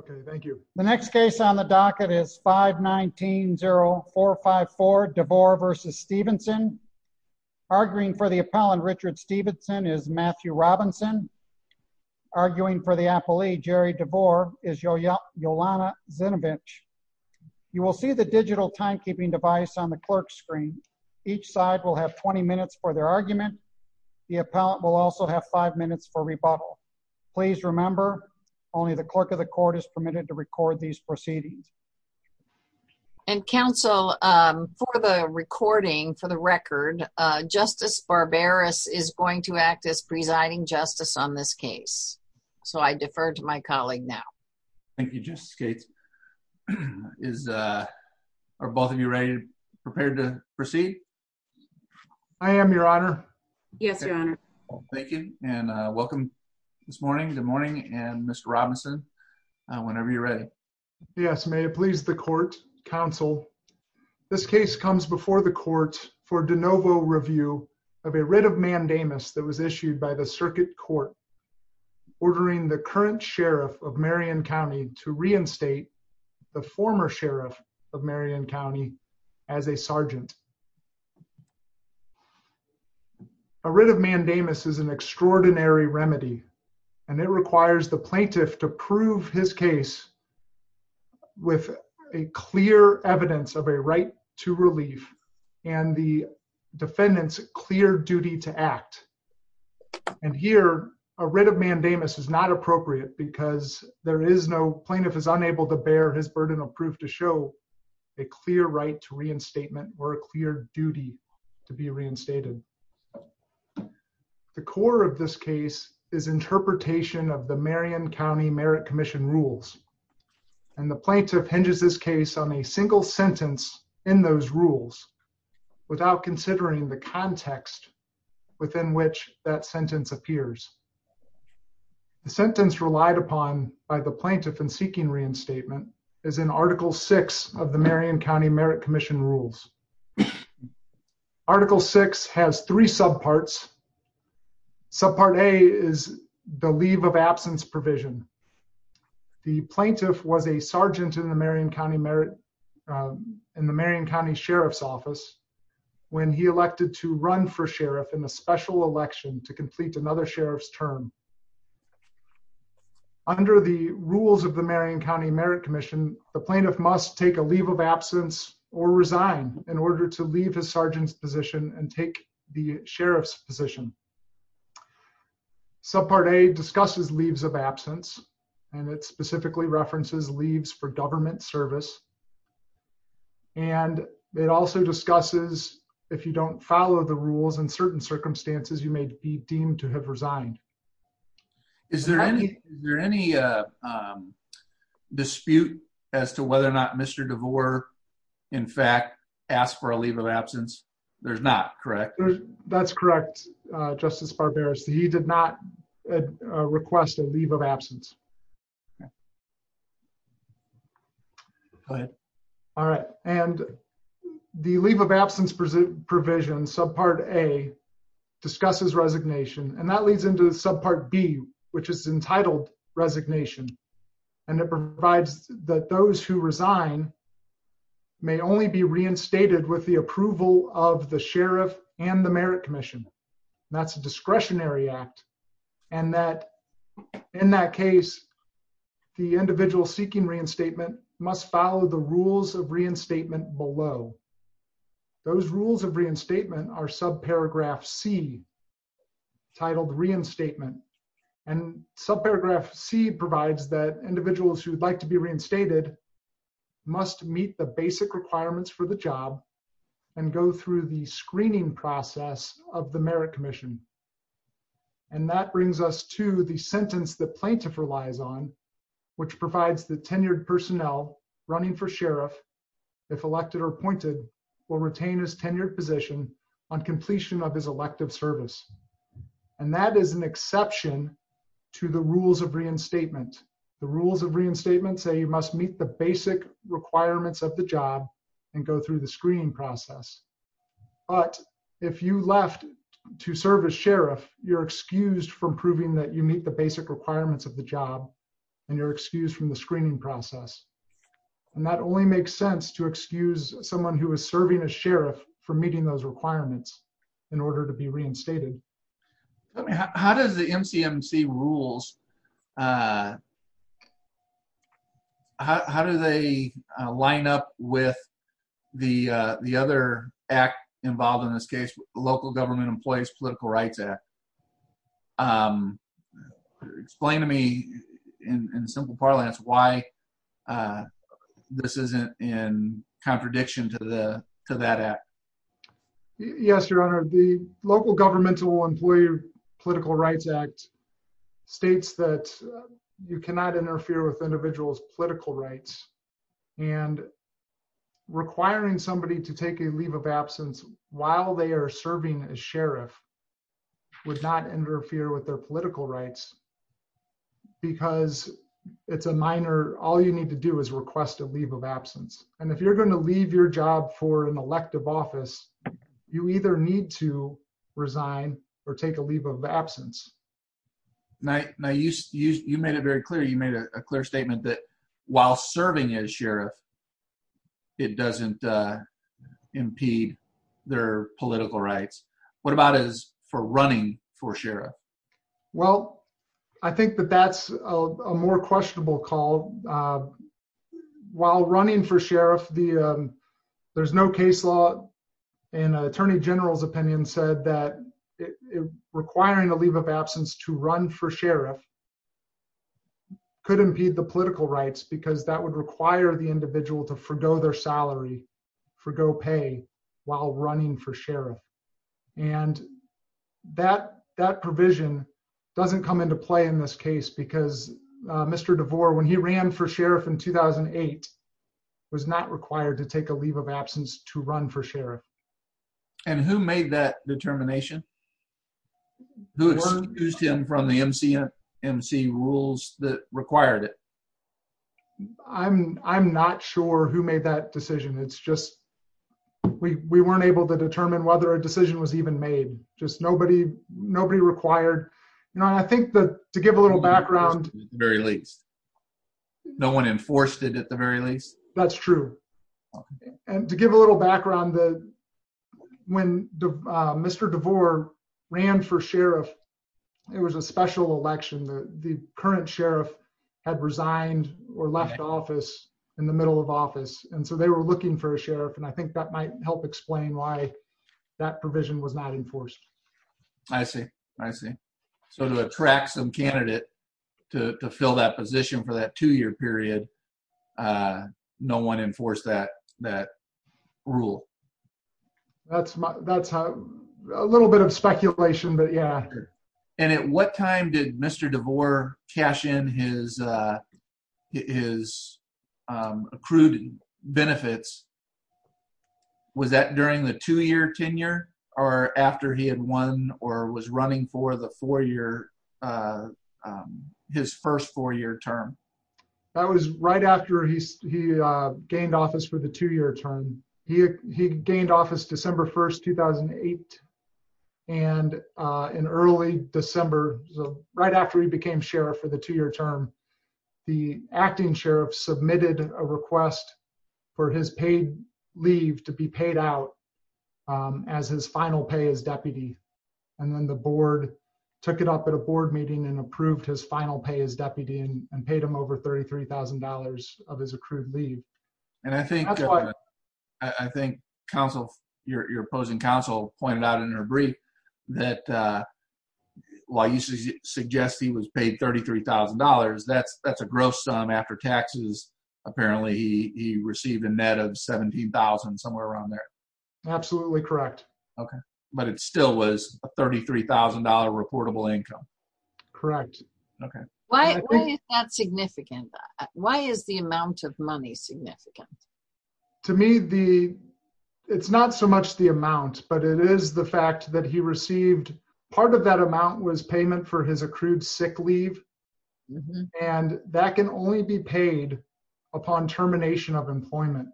Okay, thank you. The next case on the docket is 519-0454 DeVore v. Stevenson. Arguing for the appellant Richard Stevenson is Matthew Robinson. Arguing for the appellee Jerry DeVore is Yolana Zinovich. You will see the digital timekeeping device on the clerk's screen. Each side will have 20 minutes for their argument. The appellant will also have five minutes for rebuttal. Please remember only the clerk of the court is permitted to record these proceedings. And counsel, for the recording, for the record, Justice Barberis is going to act as presiding justice on this case. So I defer to my colleague now. Thank you, Justice Gates. Are both of you ready and prepared to proceed? I am, your honor. Yes, your honor. Thank you and welcome this morning. Good morning and Mr. Robinson. Whenever you're ready. Yes, may it please the court, counsel. This case comes before the court for de novo review of a writ of mandamus that was issued by the circuit court ordering the current sheriff of Marion County to reinstate the former sheriff of Marion County as a sergeant. A writ of mandamus is an extraordinary remedy and it requires the plaintiff to prove his case with a clear evidence of a right to relief and the defendant's clear duty to act. And here a writ of mandamus is not appropriate because there is no plaintiff is unable to bear his burden of proof to show a clear right to reinstatement or a clear duty to be reinstated. The core of this case is interpretation of the Marion County Merit Commission rules and the plaintiff hinges this case on a single sentence in those rules without considering the context within which that sentence appears. The sentence relied upon by the plaintiff in seeking reinstatement is in article six of the Marion County Merit Commission rules. Article six has three subparts. Subpart a is the leave of absence provision. The plaintiff was a sergeant in the Marion County Merit in the Marion County Sheriff's office when he elected to run for sheriff in the special election to complete another sheriff's term. Under the rules of the Marion County Merit Commission, the plaintiff must take a leave of absence or resign in order to leave his sergeant's position and take the sheriff's position. Subpart a discusses leaves of absence and it specifically references leaves for government service and it also discusses if you don't follow the rules in certain circumstances you may be resigned. Is there any dispute as to whether or not Mr. DeVore in fact asked for a leave of absence? There's not, correct? That's correct, Justice Barberis. He did not request a leave of absence. Go ahead. All right and the leave of absence provision subpart a discusses resignation and that leads into subpart b which is entitled resignation and it provides that those who resign may only be reinstated with the approval of the sheriff and the merit commission. That's a discretionary act and that in that case the individual seeking reinstatement must follow the rules of reinstatement below. Those rules of reinstatement are subparagraph c titled reinstatement and subparagraph c provides that individuals who would like to be reinstated must meet the basic requirements for the job and go through the screening process of the merit commission and that brings us to the sentence the plaintiff relies on which provides the tenured personnel running for sheriff if elected or appointed will retain his tenured position on completion of his elective service and that is an exception to the rules of reinstatement. The rules of reinstatement say you must meet the basic requirements of the job and go through the screening process but if you left to serve as sheriff you're excused from proving that you meet the basic requirements of the job and you're excused from the screening process and that only makes sense to excuse someone who is serving as sheriff for meeting those requirements in order to be reinstated. How does the MCMC rules how do they line up with the other act involved in this case local government political rights act explain to me in simple parlance why this isn't in contradiction to that act. Yes your honor the local governmental employee political rights act states that you cannot interfere with individuals political rights and requiring somebody to take a leave of absence while they are serving as sheriff would not interfere with their political rights because it's a minor all you need to do is request a leave of absence and if you're going to leave your job for an elective office you either need to resign or take a leave of absence. Now you made it very clear you made a clear statement that while serving as sheriff it doesn't impede their political rights. What about is for running for sheriff? Well I think that that's a more questionable call while running for sheriff the there's no case law and attorney general's opinion said that requiring a leave of absence to run for sheriff could impede the political rights because that would require the individual to forego their salary forego pay while running for sheriff and that that provision doesn't come into play in this case because Mr. DeVore when he ran for sheriff in 2008 was not required to take a leave of absence to run for sheriff. And who made that determination? Who excused him from the MC rules that required it? I'm not sure who made that decision it's just we weren't able to determine whether a decision was even made just nobody nobody required you know and I think that to give a little background at the very least no one enforced it at the very least. That's true and to give a little background that when Mr. DeVore ran for sheriff it was a special election the current sheriff had resigned or left office in the middle of office and so they were looking for a sheriff and I think that might help explain why that provision was not enforced. I see I see so to attract some candidate to fill that position for that two-year period no one enforced that that rule. That's my that's a little bit of speculation but yeah. And at what time did Mr. DeVore cash in his his accrued benefits was that during the two-year tenure or after he had won or was running for the four-year his first four-year term? That was right after he he gained office for the two-year term he he gained office December 1st 2008 and in early December so right after he became sheriff for the two-year term the acting sheriff submitted a request for his paid leave to be paid out as his final pay as deputy and then the board took it up at a board meeting and approved his final pay as deputy and paid him over $33,000 of his accrued leave. And I think I think counsel your opposing counsel pointed out in her brief that while you suggest he was paid $33,000 that's that's a gross sum after taxes apparently he he received a net of $17,000 somewhere around there. Absolutely correct. Okay but it still was a $33,000 reportable income. Correct. Okay why why is that significant why is the amount of money significant? To me the it's not so much the amount but it is the fact that he received part of that amount was payment for his accrued sick leave and that can only be paid upon termination of employment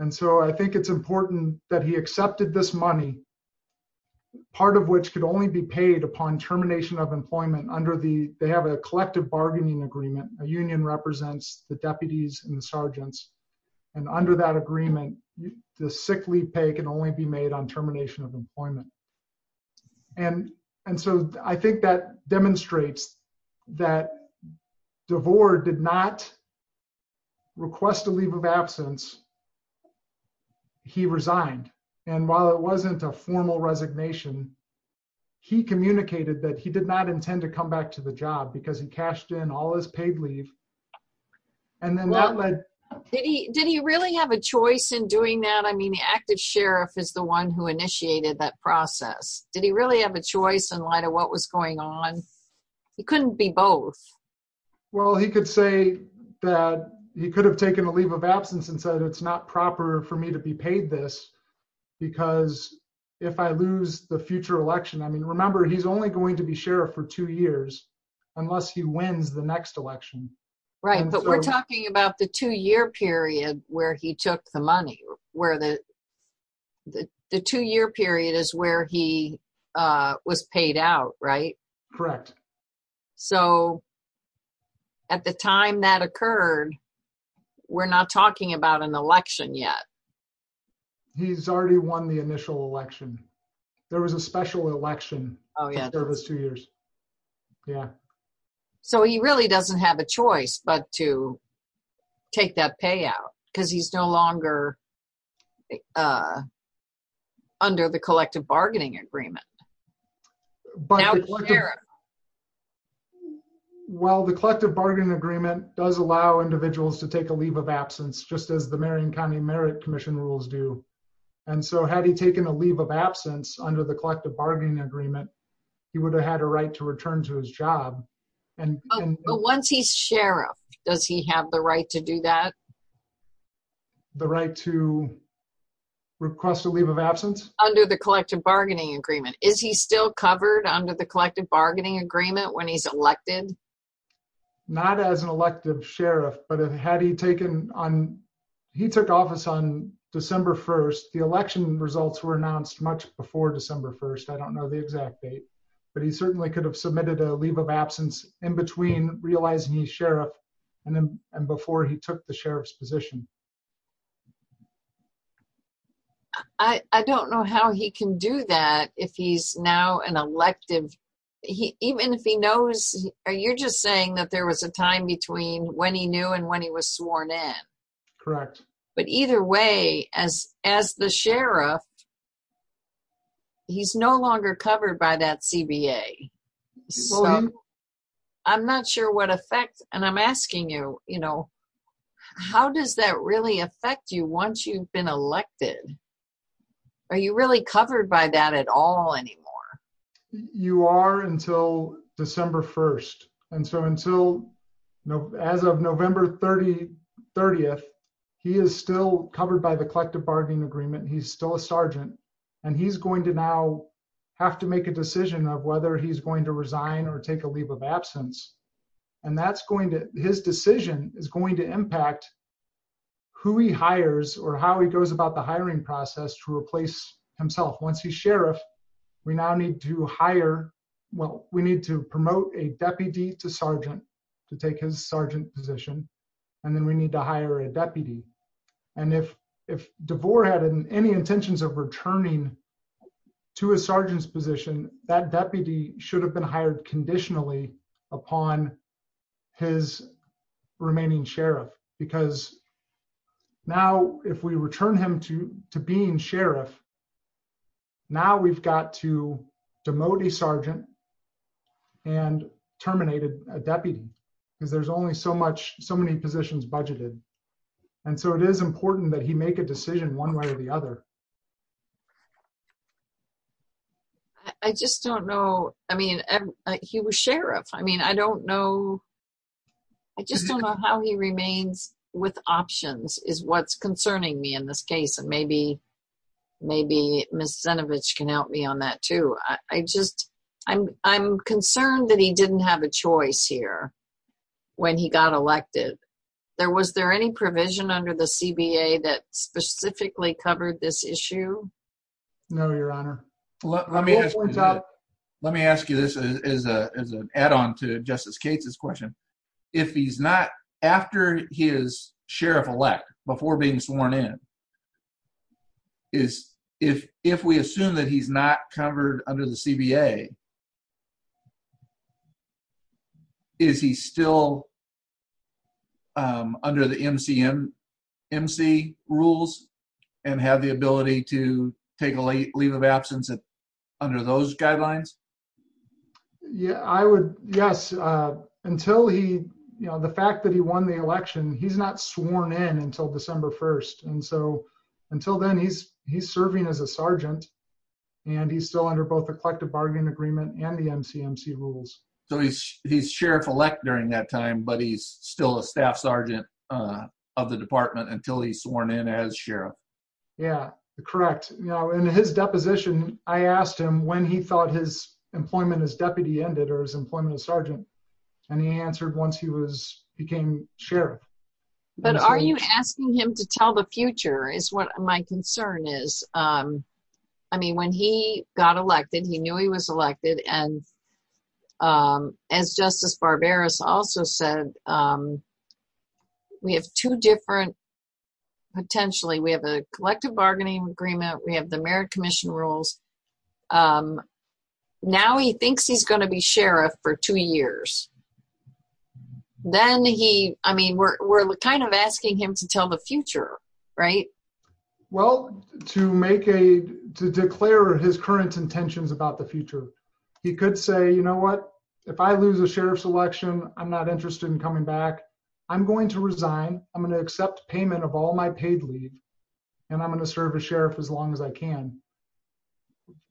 under the they have a collective bargaining agreement a union represents the deputies and the sergeants and under that agreement the sick leave pay can only be made on termination of employment and and so I think that demonstrates that DeVore did not request a leave of absence. He resigned and while it wasn't a formal resignation he communicated that he did not intend to come back to the job because he cashed in all his paid leave and then that led did he did he really have a choice in doing that I mean the active sheriff is the one who initiated that process did he really have a choice in light of what was going on he couldn't be both. Well he could say that he could have taken a leave of absence and said it's not proper for me to be paid this because if I lose the future election I mean remember he's only going to be sheriff for two years unless he wins the next election. Right but we're talking about the two-year period where he took the money where the the two-year period is where he was paid out right. Correct. So at the time that occurred we're not talking about an election yet. He's already won the initial election there was a special election oh yeah there was two years yeah. So he really doesn't have a choice but to take that pay out because he's no longer under the collective bargaining agreement. Well the collective bargaining agreement does allow individuals to take a leave of absence just as the Marion County Merit Commission rules do and so had he taken a leave of absence under the collective bargaining agreement he would have had a right to return to his job. But once he's elected does he still have the right to do that? The right to request a leave of absence? Under the collective bargaining agreement. Is he still covered under the collective bargaining agreement when he's elected? Not as an elected sheriff but had he taken on he took office on December 1st the election results were announced much before December 1st I don't know the exact date but he he took the sheriff's position. I don't know how he can do that if he's now an elective he even if he knows are you just saying that there was a time between when he knew and when he was sworn in? Correct. But either way as as the sheriff he's no longer covered by that CBA so I'm not sure what effect and I'm asking you you know how does that really affect you once you've been elected? Are you really covered by that at all anymore? You are until December 1st and so until as of November 30th he is still covered by the collective bargaining agreement he's still a sergeant and he's going to now have to make a decision of whether he's going to resign or take a leave of absence and that's going to his decision is going to impact who he hires or how he goes about the hiring process to replace himself once he's sheriff we now need to hire well we need to promote a deputy to sergeant to take his sergeant position and then we need to hire a deputy and if if DeVore had any intentions of returning to a sergeant's position that deputy should have been hired conditionally upon his remaining sheriff because now if we return him to to being sheriff now we've got to demote a sergeant and terminated a deputy because there's only so much so many positions budgeted and so it is important that he make a decision one way or the other. I just don't know I mean he was sheriff I mean I don't know I just don't know how he remains with options is what's concerning me in this case and maybe maybe Ms. Zinovich can help me on that too I just I'm I'm concerned that he didn't have a choice here when he got elected there was there any provision under the CBA that specifically covered this issue? No your honor let me let me ask you this as a as an add-on to Justice Cates's question if he's not after his sheriff-elect before being sworn in is if if we assume that he's not covered under the CBA is he still under the MCM MC rules and have the ability to take a leave of absence under those guidelines? Yeah I would yes until he you know the fact that he won the election he's not sworn in until December 1st and so until then he's he's serving as a sergeant and he's still under both collective bargaining agreement and the MCMC rules. So he's he's sheriff-elect during that time but he's still a staff sergeant of the department until he's sworn in as sheriff? Yeah correct you know in his deposition I asked him when he thought his employment as deputy ended or his employment as sergeant and he answered once he was became sheriff. But are you asking him to tell the future is what my concern is um I mean when he got elected he knew he was elected and um as Justice Barbaros also said um we have two different potentially we have a collective bargaining agreement we have the merit commission rules um now he thinks he's going to be sheriff for two years then he I mean we're we're kind of asking him to tell the future right? Well to make a to declare his current intentions about the future he could say you know what if I lose a sheriff's election I'm not interested in coming back I'm going to resign I'm going to accept payment of all my paid leave and I'm going to serve as sheriff as long as I can.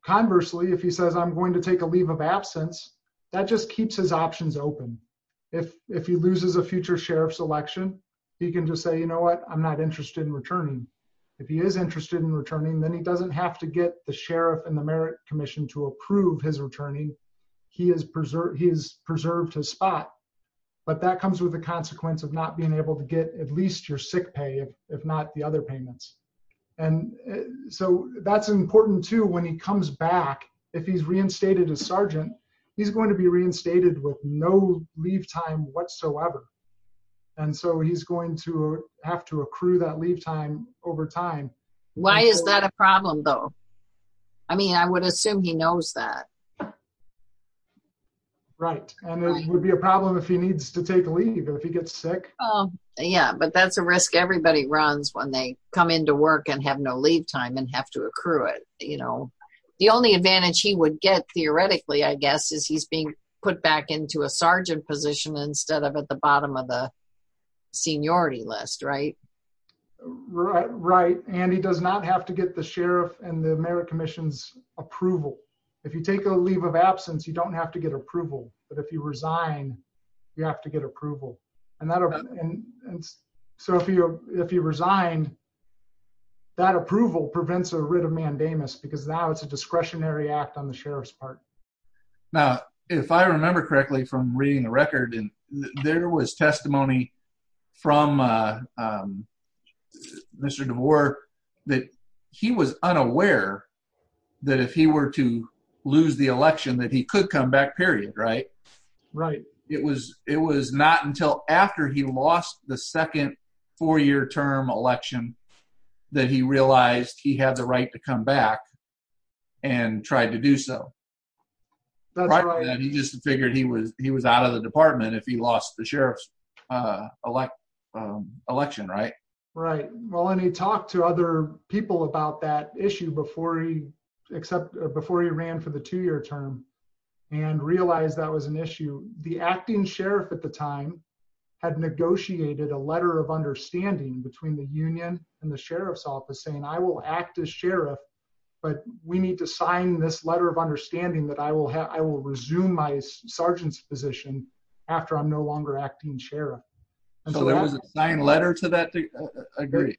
Conversely if he says I'm going to take a leave of absence that just keeps his options open if if he loses a future sheriff's election he can just say you know what I'm not interested in returning. If he is interested in returning then he doesn't have to get the sheriff and the merit commission to approve his returning he has preserved he has preserved his spot but that comes with the consequence of not being able to get at least your sick pay if not the other payments and so that's important too when he comes back if he's reinstated as sergeant he's going to be reinstated with no leave time whatsoever and so he's going to have to accrue that leave time over time. Why is that a problem though? I mean I would assume he knows that. Right and it would be a problem if he needs to take leave if he gets sick. Oh yeah but that's a risk everybody runs when they come into work and have to accrue it you know the only advantage he would get theoretically I guess is he's being put back into a sergeant position instead of at the bottom of the seniority list right? Right and he does not have to get the sheriff and the merit commission's approval. If you take a leave of absence you don't have to get approval but if you resign you have to get approval and and so if you resigned that approval prevents a writ of mandamus because now it's a discretionary act on the sheriff's part. Now if I remember correctly from reading the record and there was testimony from Mr. DeVore that he was unaware that if he were to lose the election that he could come back. Right. It was it was not until after he lost the second four-year term election that he realized he had the right to come back and tried to do so. He just figured he was he was out of the department if he lost the sheriff's election right? Right well and he talked to other people about that issue before he except before he ran for the two-year term and realized that was an issue. The acting sheriff at the time had negotiated a letter of understanding between the union and the sheriff's office saying I will act as sheriff but we need to sign this letter of understanding that I will have I will resume my sergeant's position after I'm no longer acting sheriff. So there was a signed letter to that? I agree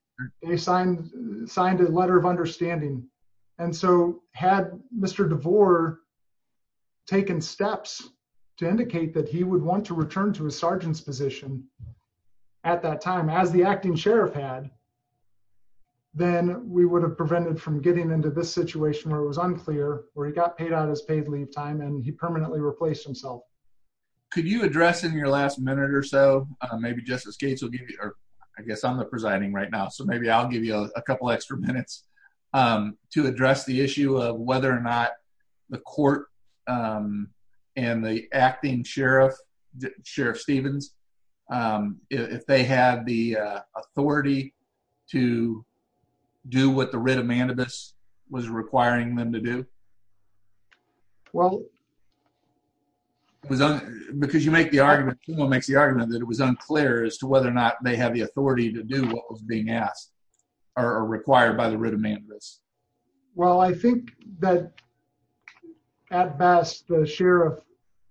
they signed signed a letter of understanding and so had Mr. DeVore taken steps to indicate that he would want to return to his sergeant's position at that time as the acting sheriff had then we would have prevented from getting into this situation where it was unclear where he got paid out his paid leave time and he permanently replaced himself. Could you address in your last minute or so maybe Justice Gates will give you or I guess I'm the presiding right now so maybe I'll give you a couple extra minutes to address the issue of whether or not the court and the acting sheriff sheriff Stevens if they had the authority to do what the writ of mandibus was requiring them to do? Well it was because you make the argument makes the argument that it was unclear as to whether or not they have the authority to do what was being asked or required by the writ of mandibus. Well I think that at best the sheriff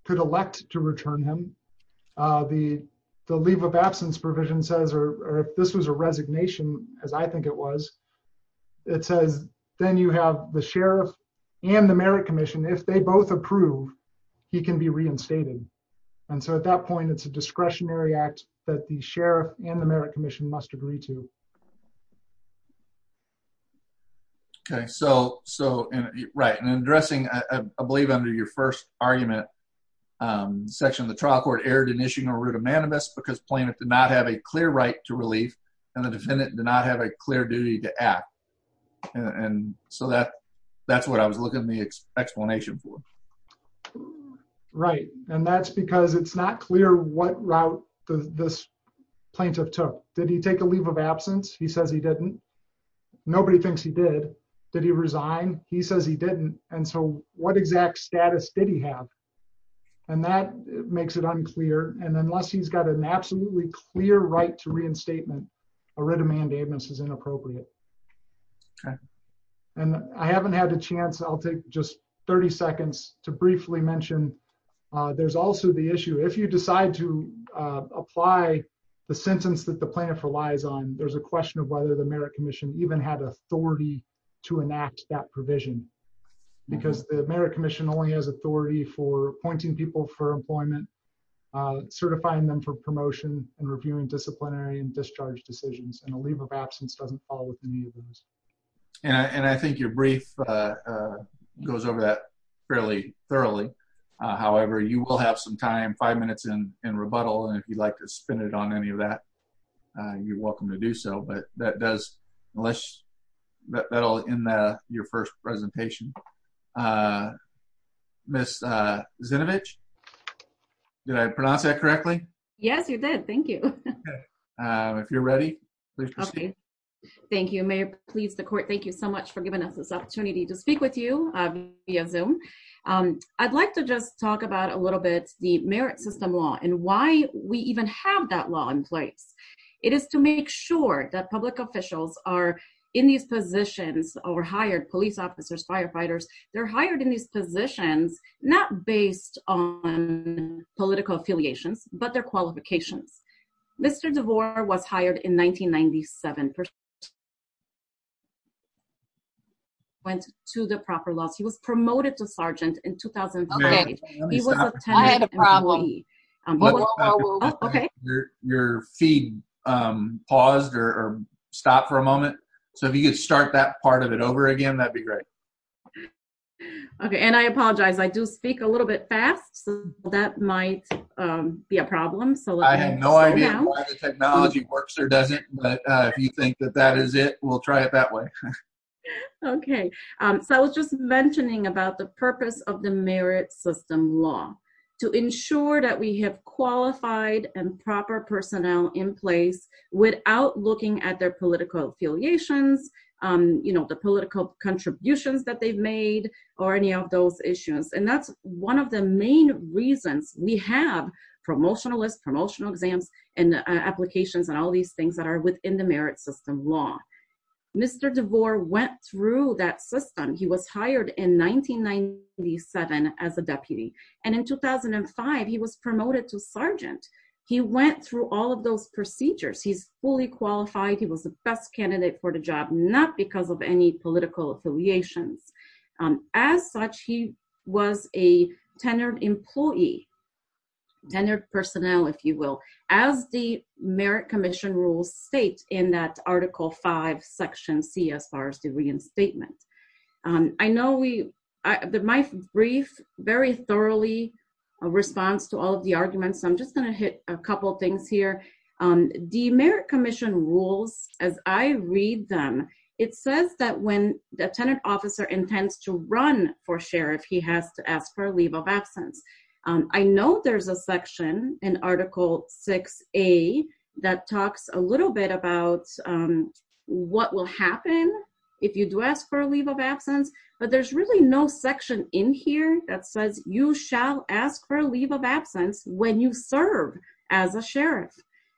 could elect to return him the the leave of absence provision says or if this was a resignation as I think it was it says then you have the sheriff and the merit commission if they both approve he can be reinstated and so at that point it's a discretionary act that the sheriff and the merit commission must agree to. Okay so so right and addressing I believe under your first argument section of the trial court erred in issuing a writ of mandibus because plaintiff did not have a clear right to relief and the defendant did not have a clear duty to act and so that that's what I was looking at the explanation for. Right and that's because it's not clear what route this plaintiff took did he take a leave of absence he says he didn't nobody thinks he did did he resign he says he didn't and so what exact status did he have and that makes it unclear and unless he's got an a writ of mandibus is inappropriate. Okay and I haven't had a chance I'll take just 30 seconds to briefly mention there's also the issue if you decide to apply the sentence that the plaintiff relies on there's a question of whether the merit commission even had authority to enact that provision because the merit commission only has authority for appointing people for employment certifying them for promotion and reviewing disciplinary and discharge decisions and a leave of absence doesn't fall within these. And I think your brief goes over that fairly thoroughly however you will have some time five minutes in in rebuttal and if you'd like to spin it on any of that you're welcome to do so but that does unless that'll end your first presentation. Uh Miss uh Zinovich did I pronounce that correctly? Yes you did thank you. If you're ready please proceed. Okay thank you mayor please the court thank you so much for giving us this opportunity to speak with you uh via zoom. I'd like to just talk about a little bit the merit system law and why we even have that law in place it is to make sure that public they're hired in these positions not based on political affiliations but their qualifications. Mr. DeVore was hired in 1997. Went to the proper loss he was promoted to sergeant in 2005. Your feed um paused or stopped for a moment so if you could start that part of it over again that'd be great. Okay and I apologize I do speak a little bit fast so that might um be a problem. So I have no idea why the technology works or doesn't but uh if you think that that is it we'll try it that way. Okay um so I was just mentioning about the purpose of the merit system law to ensure that we have qualified and proper personnel in place without looking at their political affiliations um you know the political contributions that they've made or any of those issues and that's one of the main reasons we have promotional lists promotional exams and applications and all these things that are within the merit system law. Mr. DeVore went through that system he was hired in 1997 as a deputy and in 2005 he was promoted to sergeant. He went through all of those procedures he's fully qualified he was the best candidate for the job not because of any political affiliations. As such he was a tenured employee tenured personnel if you will as the merit commission rules state in that article 5 section c as far as the reinstatement. I know we I my brief very thoroughly response to all of the arguments I'm just going to hit a couple things here. The merit commission rules as I read them it says that when the tenant officer intends to run for sheriff he has to ask for a leave of absence. I know there's a section in article 6a that talks a little bit about what will happen if you do ask for a leave of absence but there's really no section in here that says you shall ask for a leave of absence when you serve as a sheriff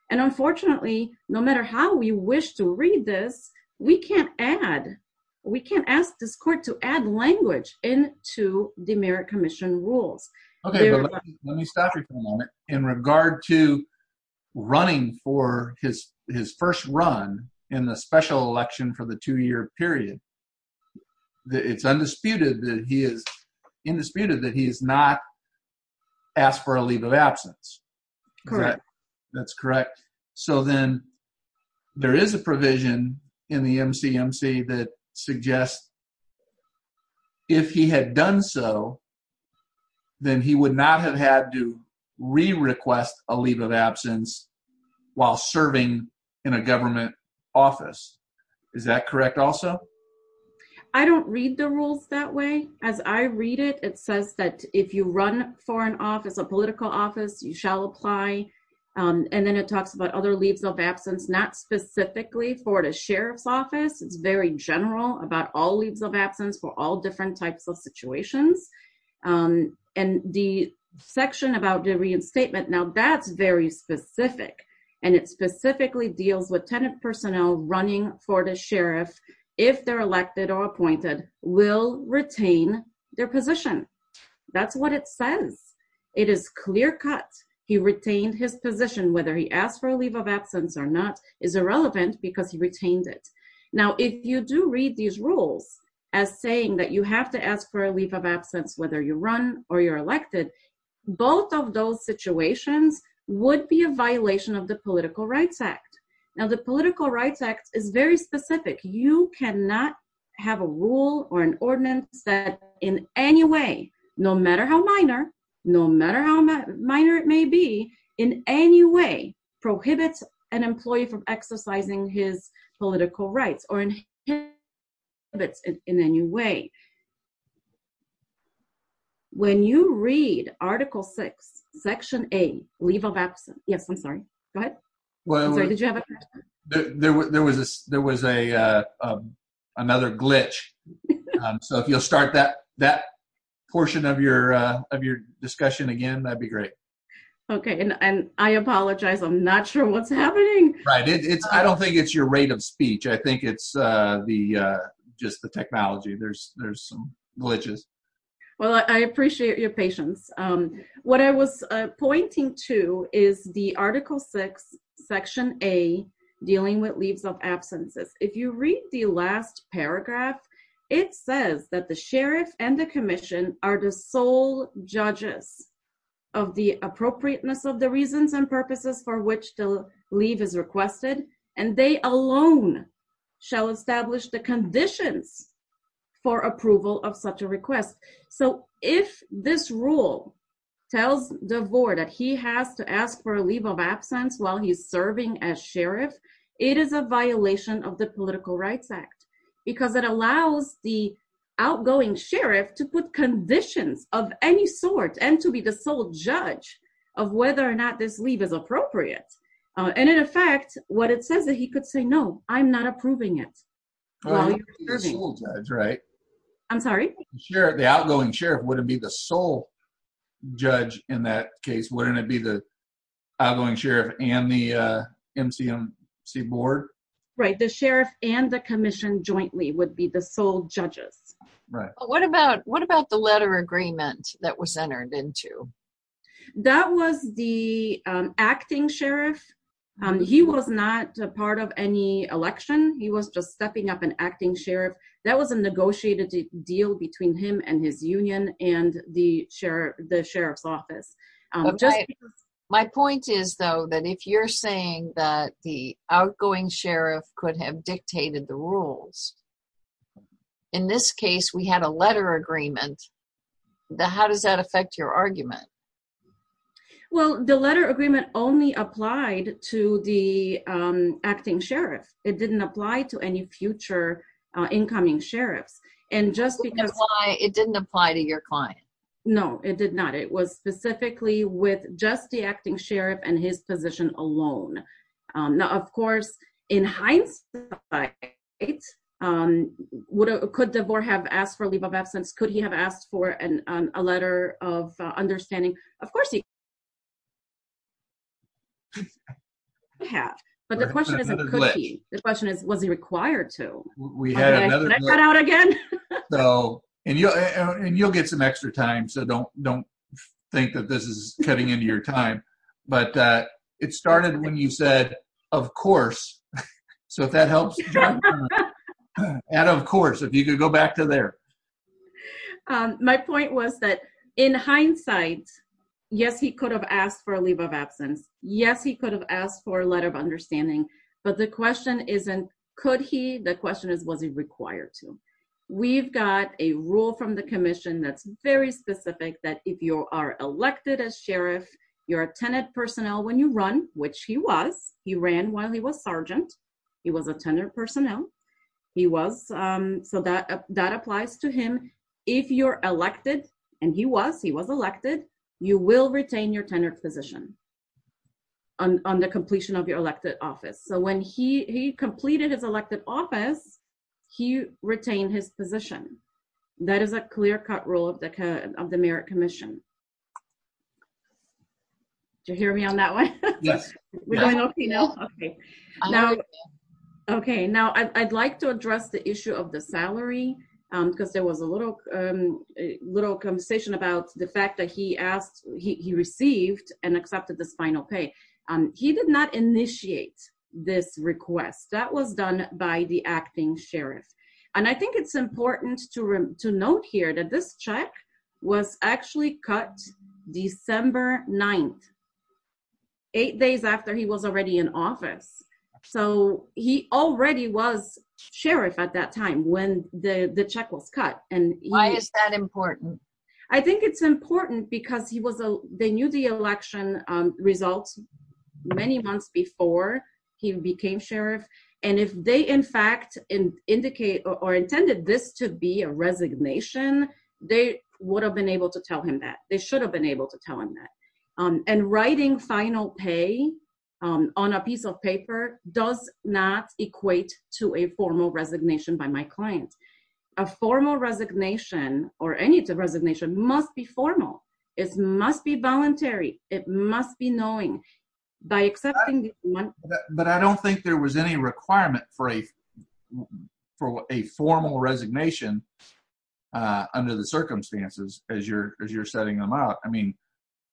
and unfortunately no matter how we wish to read this we can't add we can't ask this court to add language into the merit commission rules. Okay let me stop you for a moment in regard to running for his his first run in the special election for the two-year period that it's undisputed that he is indisputed that he is not asked for a leave of absence. Correct. That's correct so then there is a provision in the MCMC that suggests if he had done so then he would not have had to re-request a leave of absence while serving in a government office. Is that correct also? I don't read the rules that way as I read it it says that if you run for an office a political office you shall apply and then it talks about other leaves of absence not specifically for the sheriff's office it's very general about all leaves of absence for all different types of situations and the section about the reinstatement now that's very specific and it specifically deals with tenant personnel running for the sheriff if they're elected or appointed will retain their position that's what it says it is clear cut he retained his position whether he asked for a leave of absence or not is irrelevant because he retained it now if you do read these leaves of absence whether you run or you're elected both of those situations would be a violation of the political rights act now the political rights act is very specific you cannot have a rule or an ordinance that in any way no matter how minor no matter how minor it may be in any way prohibits an employee from exercising his political rights or inhibits in any way when you read article six section a leave of absence yes i'm sorry go ahead well did you have there was a there was a uh another glitch um so if you'll start that that portion of your uh of your discussion again that'd be great okay and i apologize i'm not sure what's happening right it's i don't think it's your rate of speech i think it's uh the uh just the technology there's some glitches well i appreciate your patience um what i was pointing to is the article six section a dealing with leaves of absences if you read the last paragraph it says that the sheriff and the commission are the sole judges of the appropriateness of the reasons and purposes for which the leave is requested and they alone shall establish the conditions for approval of such a request so if this rule tells the board that he has to ask for a leave of absence while he's serving as sheriff it is a violation of the political rights act because it allows the outgoing sheriff to put conditions of any sort and to be the sole judge of whether or not this leave is appropriate and in effect what it says that he could say no i'm not approving it that's right i'm sorry sure the outgoing sheriff wouldn't be the sole judge in that case wouldn't it be the outgoing sheriff and the uh mcmc board right the sheriff and the commission jointly would be the sole judges right what about what about the letter agreement that was entered into that was the um acting sheriff um he was not a part of any election he was just stepping up an acting sheriff that was a negotiated deal between him and his union and the sheriff the sheriff's office um just my point is though that if you're saying that the outgoing sheriff could have been a part of that agreement well the letter agreement only applied to the um acting sheriff it didn't apply to any future uh incoming sheriffs and just because why it didn't apply to your client no it did not it was specifically with just the acting sheriff and his position alone now of course in hindsight um what could devore have asked for a leave of absence could he have asked for an a letter of understanding of course he have but the question is the question is was he required to we had another cut out again so and you and you'll get some extra time so don't don't think that this is cutting into your time but uh it started when you said of course so if that helps and of course if you could go back to there um my point was that in hindsight yes he could have asked for a leave of absence yes he could have asked for a letter of understanding but the question isn't could he the question is was he required to we've got a rule from the commission that's very specific that if you are elected as sheriff you're a tenant personnel when you run which he was he ran while he was sergeant he was a tenured personnel he was um so that that applies to him if you're elected and he was he was elected you will retain your tenured position on on the completion of your elected office so when he he completed his elected office he retained his position that is a clear rule of the of the merit commission did you hear me on that one yes we're going okay now okay now okay now i'd like to address the issue of the salary um because there was a little um a little conversation about the fact that he asked he received and accepted this final pay um he did not initiate this request that was done by the acting sheriff and i think it's important to to note here that this check was actually cut december 9th eight days after he was already in office so he already was sheriff at that time when the the check was cut and why is that important i think it's important because he was a they knew um results many months before he became sheriff and if they in fact in indicate or intended this to be a resignation they would have been able to tell him that they should have been able to tell him that um and writing final pay um on a piece of paper does not equate to a formal resignation by my client a formal resignation or any resignation must be formal it must be voluntary it must be knowing by accepting but i don't think there was any requirement for a for a formal resignation uh under the circumstances as you're as you're setting them out i mean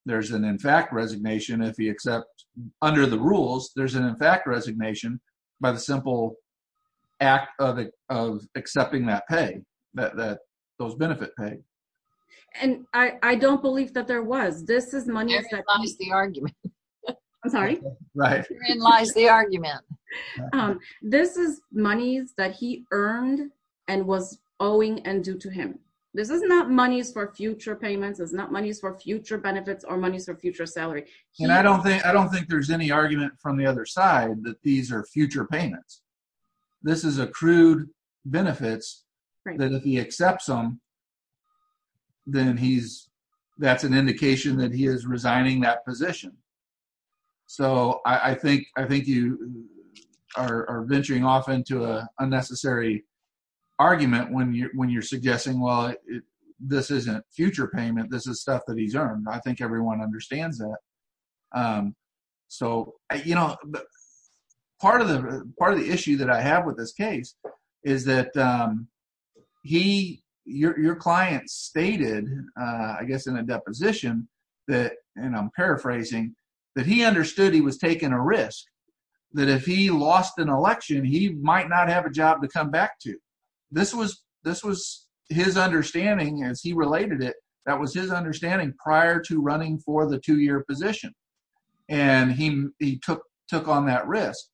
there's an in fact resignation if he accepts under the rules there's an in fact resignation by the simple act of accepting that pay that that those benefit pay and i i don't believe that there was this is money lies the argument i'm sorry right lies the argument um this is monies that he earned and was owing and due to him this is not monies for future payments it's not monies for future benefits or monies for future salary and i don't think i don't think there's any argument from the other side that these are future payments this is accrued benefits that if he accepts them then he's that's an indication that he is resigning that position so i i think i think you are are venturing off into a unnecessary argument when you're when you're suggesting well this isn't future payment this is stuff that he's earned i think everyone understands that um so you know part of the part of the issue that i have with this case is that um he your client stated uh i guess in a deposition that and i'm paraphrasing that he understood he was taking a risk that if he lost an election he might not have a job to come back to this was this was his understanding as he related it that was his understanding prior to running for the two-year position and he he took took on that risk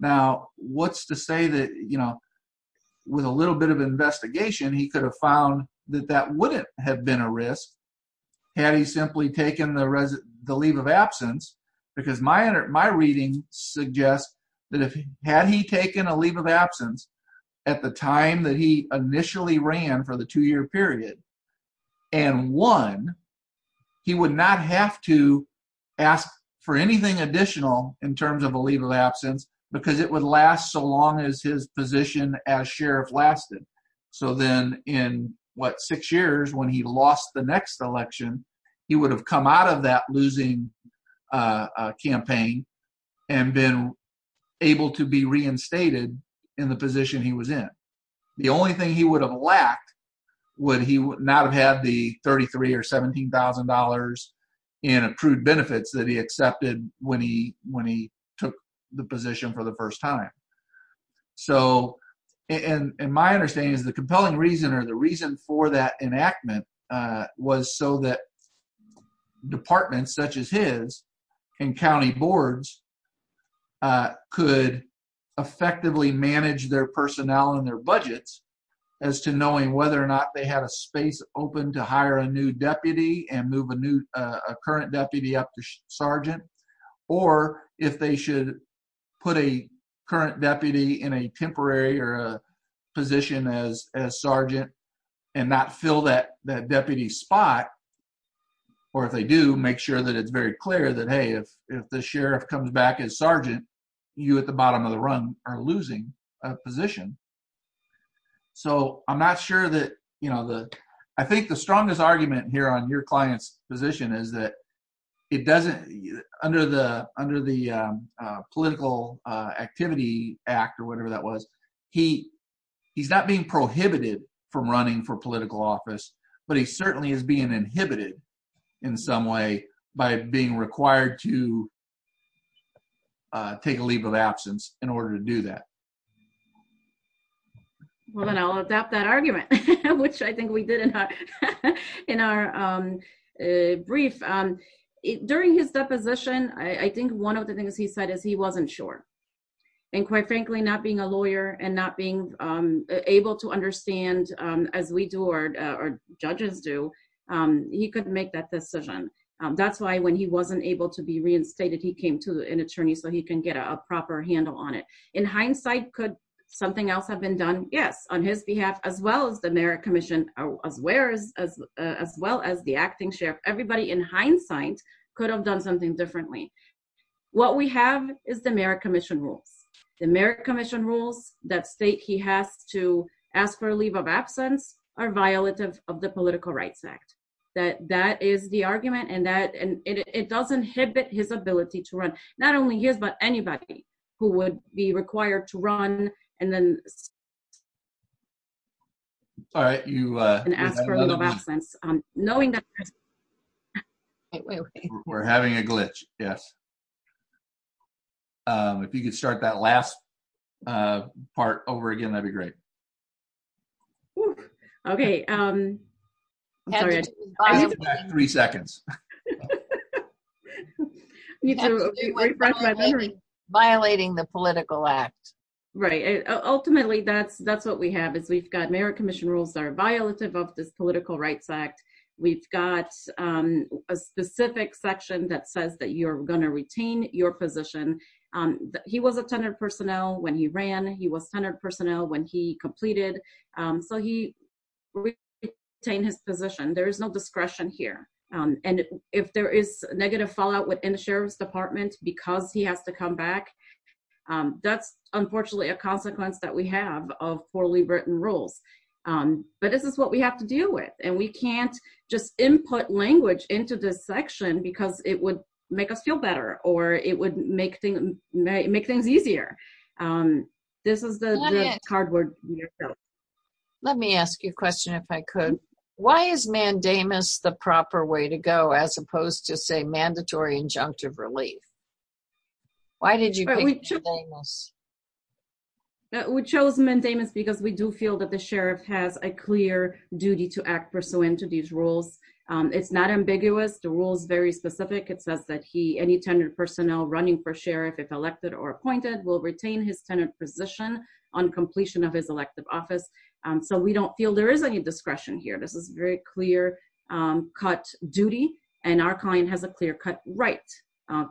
now what's to say that you know with a little bit of investigation he could have found that that wouldn't have been a risk had he simply taken the the leave of absence because my my reading suggests that if had he taken a leave of absence at the time that he initially ran for the two-year period and won he would not have to ask for anything additional in terms of a leave of absence because it would last so long as his position as sheriff lasted so then in what six years when he lost the next election he would have come out of that losing uh campaign and been able to be not have had the 33 or 17 000 and approved benefits that he accepted when he when he took the position for the first time so and and my understanding is the compelling reason or the reason for that enactment uh was so that departments such as his and county boards uh could effectively manage their personnel and their budgets as to knowing whether or not they had a space open to hire a new deputy and move a new uh a current deputy up to sergeant or if they should put a current deputy in a temporary or a position as as sergeant and not fill that that deputy spot or if they do make sure that it's very clear that hey if if the sheriff comes back as a new deputy he's going to have a position so i'm not sure that you know the i think the strongest argument here on your client's position is that it doesn't under the under the uh political uh activity act or whatever that was he he's not being prohibited from running for political office but he certainly is being inhibited in some way by being required to uh take a leave of absence in order to do that well then i'll adopt that argument which i think we did in our um brief um during his deposition i think one of the things he said is he wasn't sure and quite frankly not being a lawyer and not being um able to understand um as we do or our judges do um he couldn't make that decision um that's why he wasn't able to be reinstated he came to an attorney so he can get a proper handle on it in hindsight could something else have been done yes on his behalf as well as the merit commission as where as as well as the acting sheriff everybody in hindsight could have done something differently what we have is the merit commission rules the merit commission rules that state he has to ask for a leave of absence are violative of the political rights act that that is the it does inhibit his ability to run not only his but anybody who would be required to run and then all right you uh and ask for a little absence um knowing that we're having a glitch yes um if you could start that last uh part over again that'd be great um okay um i'm sorry three seconds violating the political act right ultimately that's that's what we have is we've got merit commission rules that are violative of this political rights act we've got um a specific section that says that you're going to retain your position um he was a tenured personnel when he ran he was centered personnel when he completed um so he retained his position there is no discretion here um and if there is negative fallout within the sheriff's department because he has to come back um that's unfortunately a consequence that we have of poorly written rules um but this is what we have to deal with and we can't just input language into this section because it would make us feel better or it would make things make things easier um this is the cardboard let me ask you a question if i could why is mandamus the proper way to go as opposed to say mandatory injunctive relief why did you choose mandamus we chose mandamus because we do feel that the sheriff has a clear duty to act pursuant to these rules um it's not ambiguous the rule is very specific it says that he any tenured personnel running for sheriff if elected or appointed will retain his tenant position on completion of his elective office um so we don't feel there is any discretion here this is very clear um cut duty and our client has a clear cut right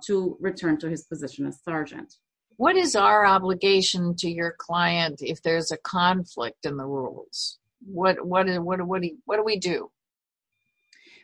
to return to his position as sergeant what is our obligation to your client if there's a conflict in the rules what what and what what do we do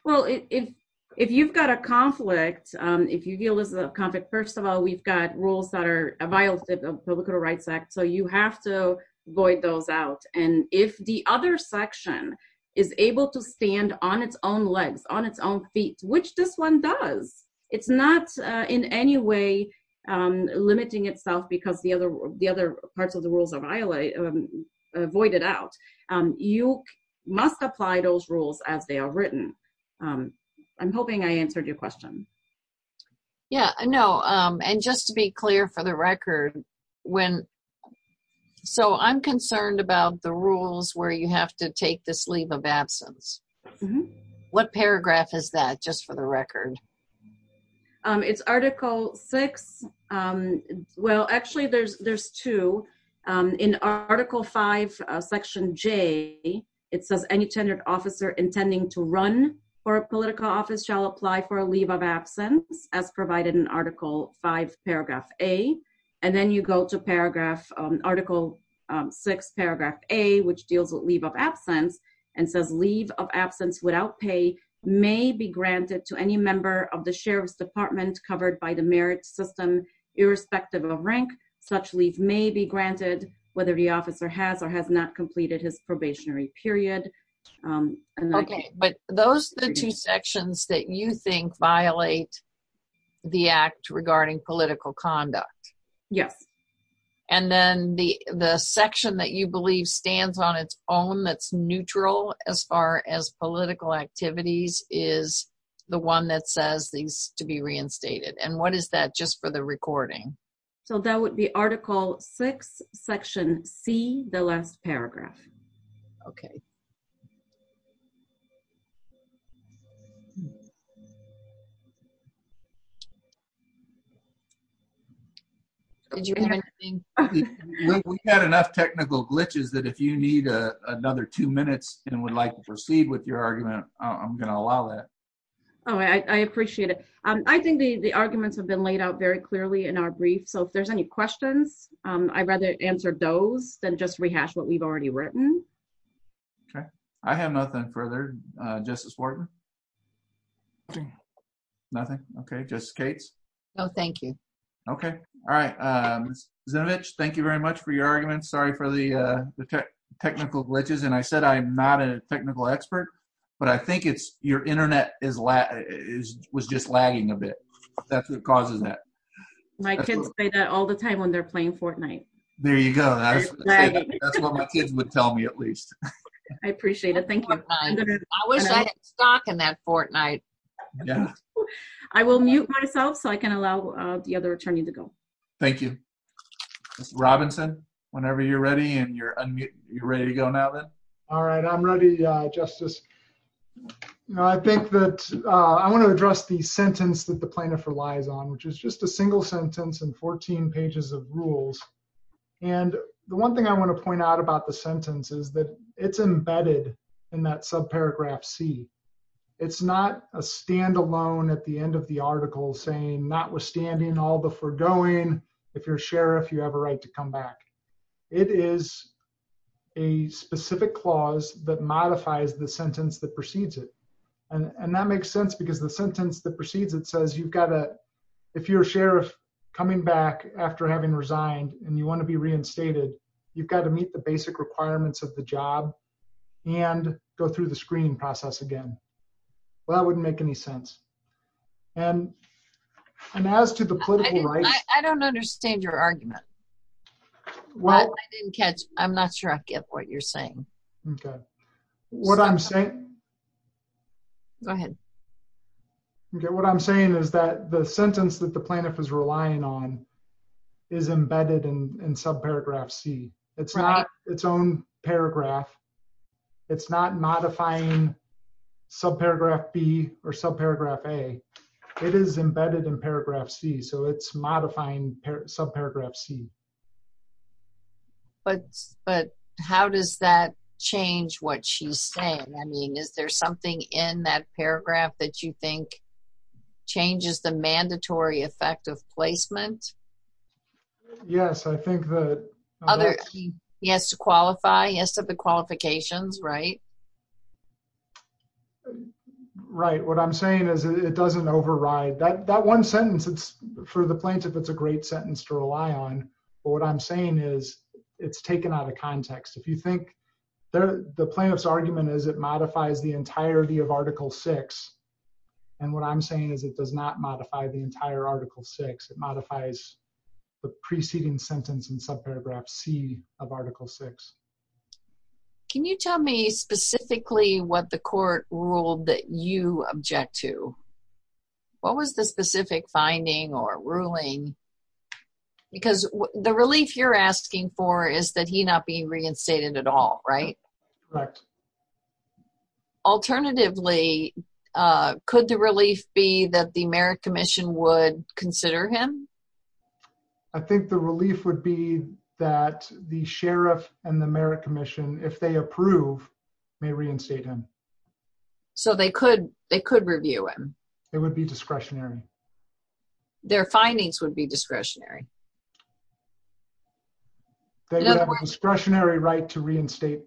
well if if you've got a conflict um if you feel this is a conflict first of all we've got rules that are a violation of public rights act so you have to void those out and if the other section is able to stand on its own legs on its own feet which this one does it's not uh in any way um limiting itself because the other the other parts of the rules are violated voided out um you must apply those rules as they are written um i'm hoping i answered your question yeah i know um and just to be clear for the record when so i'm concerned about the rules where you have to take this leave of absence what paragraph is that just for the in article five section j it says any tenured officer intending to run for a political office shall apply for a leave of absence as provided in article five paragraph a and then you go to paragraph um article um six paragraph a which deals with leave of absence and says leave of absence without pay may be granted to any member of the sheriff's department covered by the merit system irrespective of rank such leave may be granted whether the officer has or has not completed his probationary period um okay but those the two sections that you think violate the act regarding political conduct yes and then the the section that you believe stands on its own that's neutral as far as political activities is the one that says these to be reinstated and what is that just for the recording so that would be article six section c the last paragraph okay we've got enough technical glitches that if you need a another two minutes and would like to proceed with your argument i'm going to allow that oh i i appreciate it um i think the the arguments have been laid out very clearly in our brief so if there's any questions um i'd rather answer those than just rehash what we've already written okay i have nothing further uh justice wharton nothing okay just skates no thank you okay all right um zinovich thank you very much for your arguments sorry for the uh the technical glitches and i said i'm not a technical expert but i think your internet is la is was just lagging a bit that's what causes that my kids say that all the time when they're playing fortnight there you go that's what my kids would tell me at least i appreciate it thank you i wish i had stock in that fortnight yeah i will mute myself so i can allow uh the other attorney to go thank you mr robinson whenever you're ready and you're ready to go now then all right i'm ready uh justice you know i think that uh i want to address the sentence that the plaintiff relies on which is just a single sentence in 14 pages of rules and the one thing i want to point out about the sentence is that it's embedded in that subparagraph c it's not a standalone at the end of the article saying notwithstanding all the foregoing if you're to come back it is a specific clause that modifies the sentence that precedes it and and that makes sense because the sentence that precedes it says you've got to if you're a sheriff coming back after having resigned and you want to be reinstated you've got to meet the basic requirements of the job and go through the screening process again well that wouldn't make any sense and and as to the political right i don't understand your argument well i didn't catch i'm not sure i get what you're saying okay what i'm saying go ahead okay what i'm saying is that the sentence that the plaintiff is relying on is embedded in in subparagraph c it's not its own paragraph it's not modifying subparagraph b or subparagraph a it is embedded in paragraph c so it's modifying subparagraph c but but how does that change what she's saying i mean is there something in that paragraph that you think changes the mandatory effect of placement yes i think that other he has to uh right what i'm saying is it doesn't override that that one sentence it's for the plaintiff it's a great sentence to rely on but what i'm saying is it's taken out of context if you think there the plaintiff's argument is it modifies the entirety of article six and what i'm saying is it does not modify the entire article six it modifies the preceding sentence in subparagraph c of article six can you tell me specifically what the court ruled that you object to what was the specific finding or ruling because the relief you're asking for is that he not being reinstated at all right correct alternatively uh could the relief be that the merit commission would consider him i think the relief would be that the sheriff and the merit commission if they approve may reinstate him so they could they could review him it would be discretionary their findings would be discretionary they would have a discretionary right to reinstate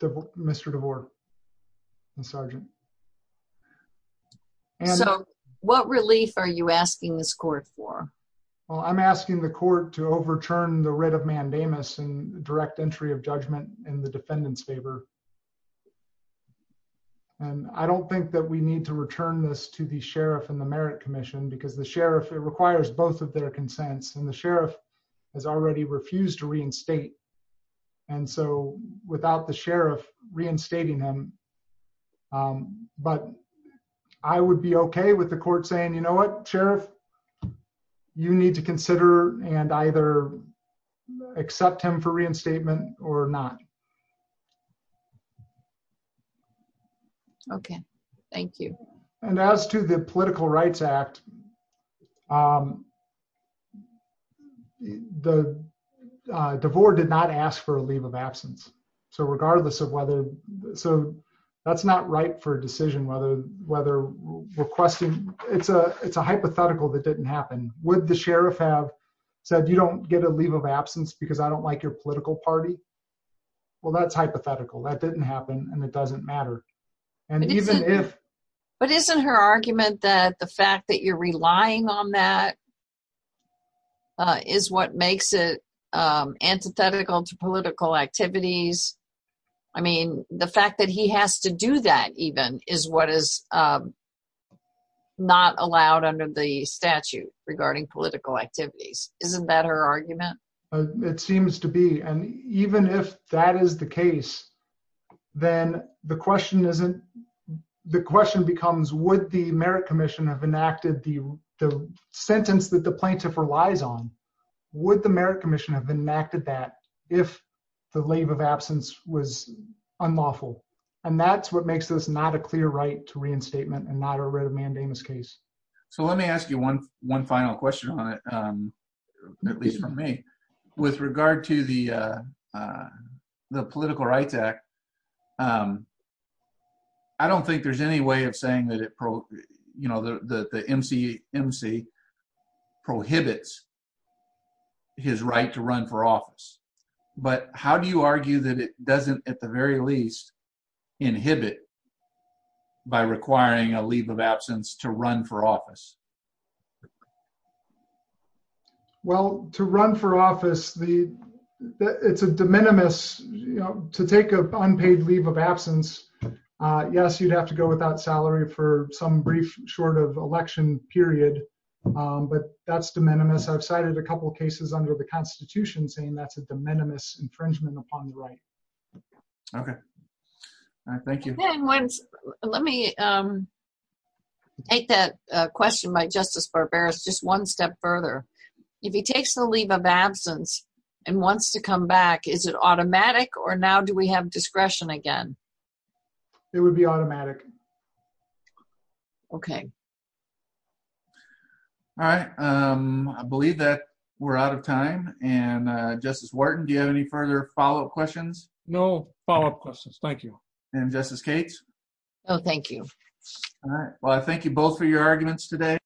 the mr devore and sergeant so what relief are you asking this court for well i'm asking the court to overturn the writ of judgment in the defendant's favor and i don't think that we need to return this to the sheriff and the merit commission because the sheriff it requires both of their consents and the sheriff has already refused to reinstate and so without the sheriff reinstating him but i would be okay with the court saying you know what sheriff you need to consider and either accept him for reinstatement or not okay thank you and as to the political rights act um the uh devore did not ask for a leave of absence so regardless of whether so that's not right for a decision whether whether requesting it's a it's a hypothetical that didn't happen would the sheriff have said you don't get a leave of absence because i don't like your political party well that's hypothetical that didn't happen and it doesn't matter and even if but isn't her argument that the fact that you're relying on that uh is what makes it um antithetical to political activities i mean the fact that he has to do that even is what is um not allowed under the isn't that her argument it seems to be and even if that is the case then the question isn't the question becomes would the merit commission have enacted the the sentence that the plaintiff relies on would the merit commission have enacted that if the leave of absence was unlawful and that's what makes this not a clear right to reinstatement and not a writ of mandamus case so let me ask you one final question on it um at least for me with regard to the uh the political rights act um i don't think there's any way of saying that it pro you know the the mcmc prohibits his right to run for office but how do you argue that it doesn't at the very least inhibit it by requiring a leave of absence to run for office well to run for office the it's a de minimis you know to take a unpaid leave of absence uh yes you'd have to go without salary for some brief short of election period um but that's de minimis i've cited a couple cases under the constitution saying that's a de minimis infringement upon the right okay all right thank you let me um take that uh question by justice barbarus just one step further if he takes the leave of absence and wants to come back is it automatic or now do we have discretion again it would be automatic okay all right um i believe that we're out of questions no follow-up questions thank you and justice kate oh thank you all right well i thank you both for your arguments today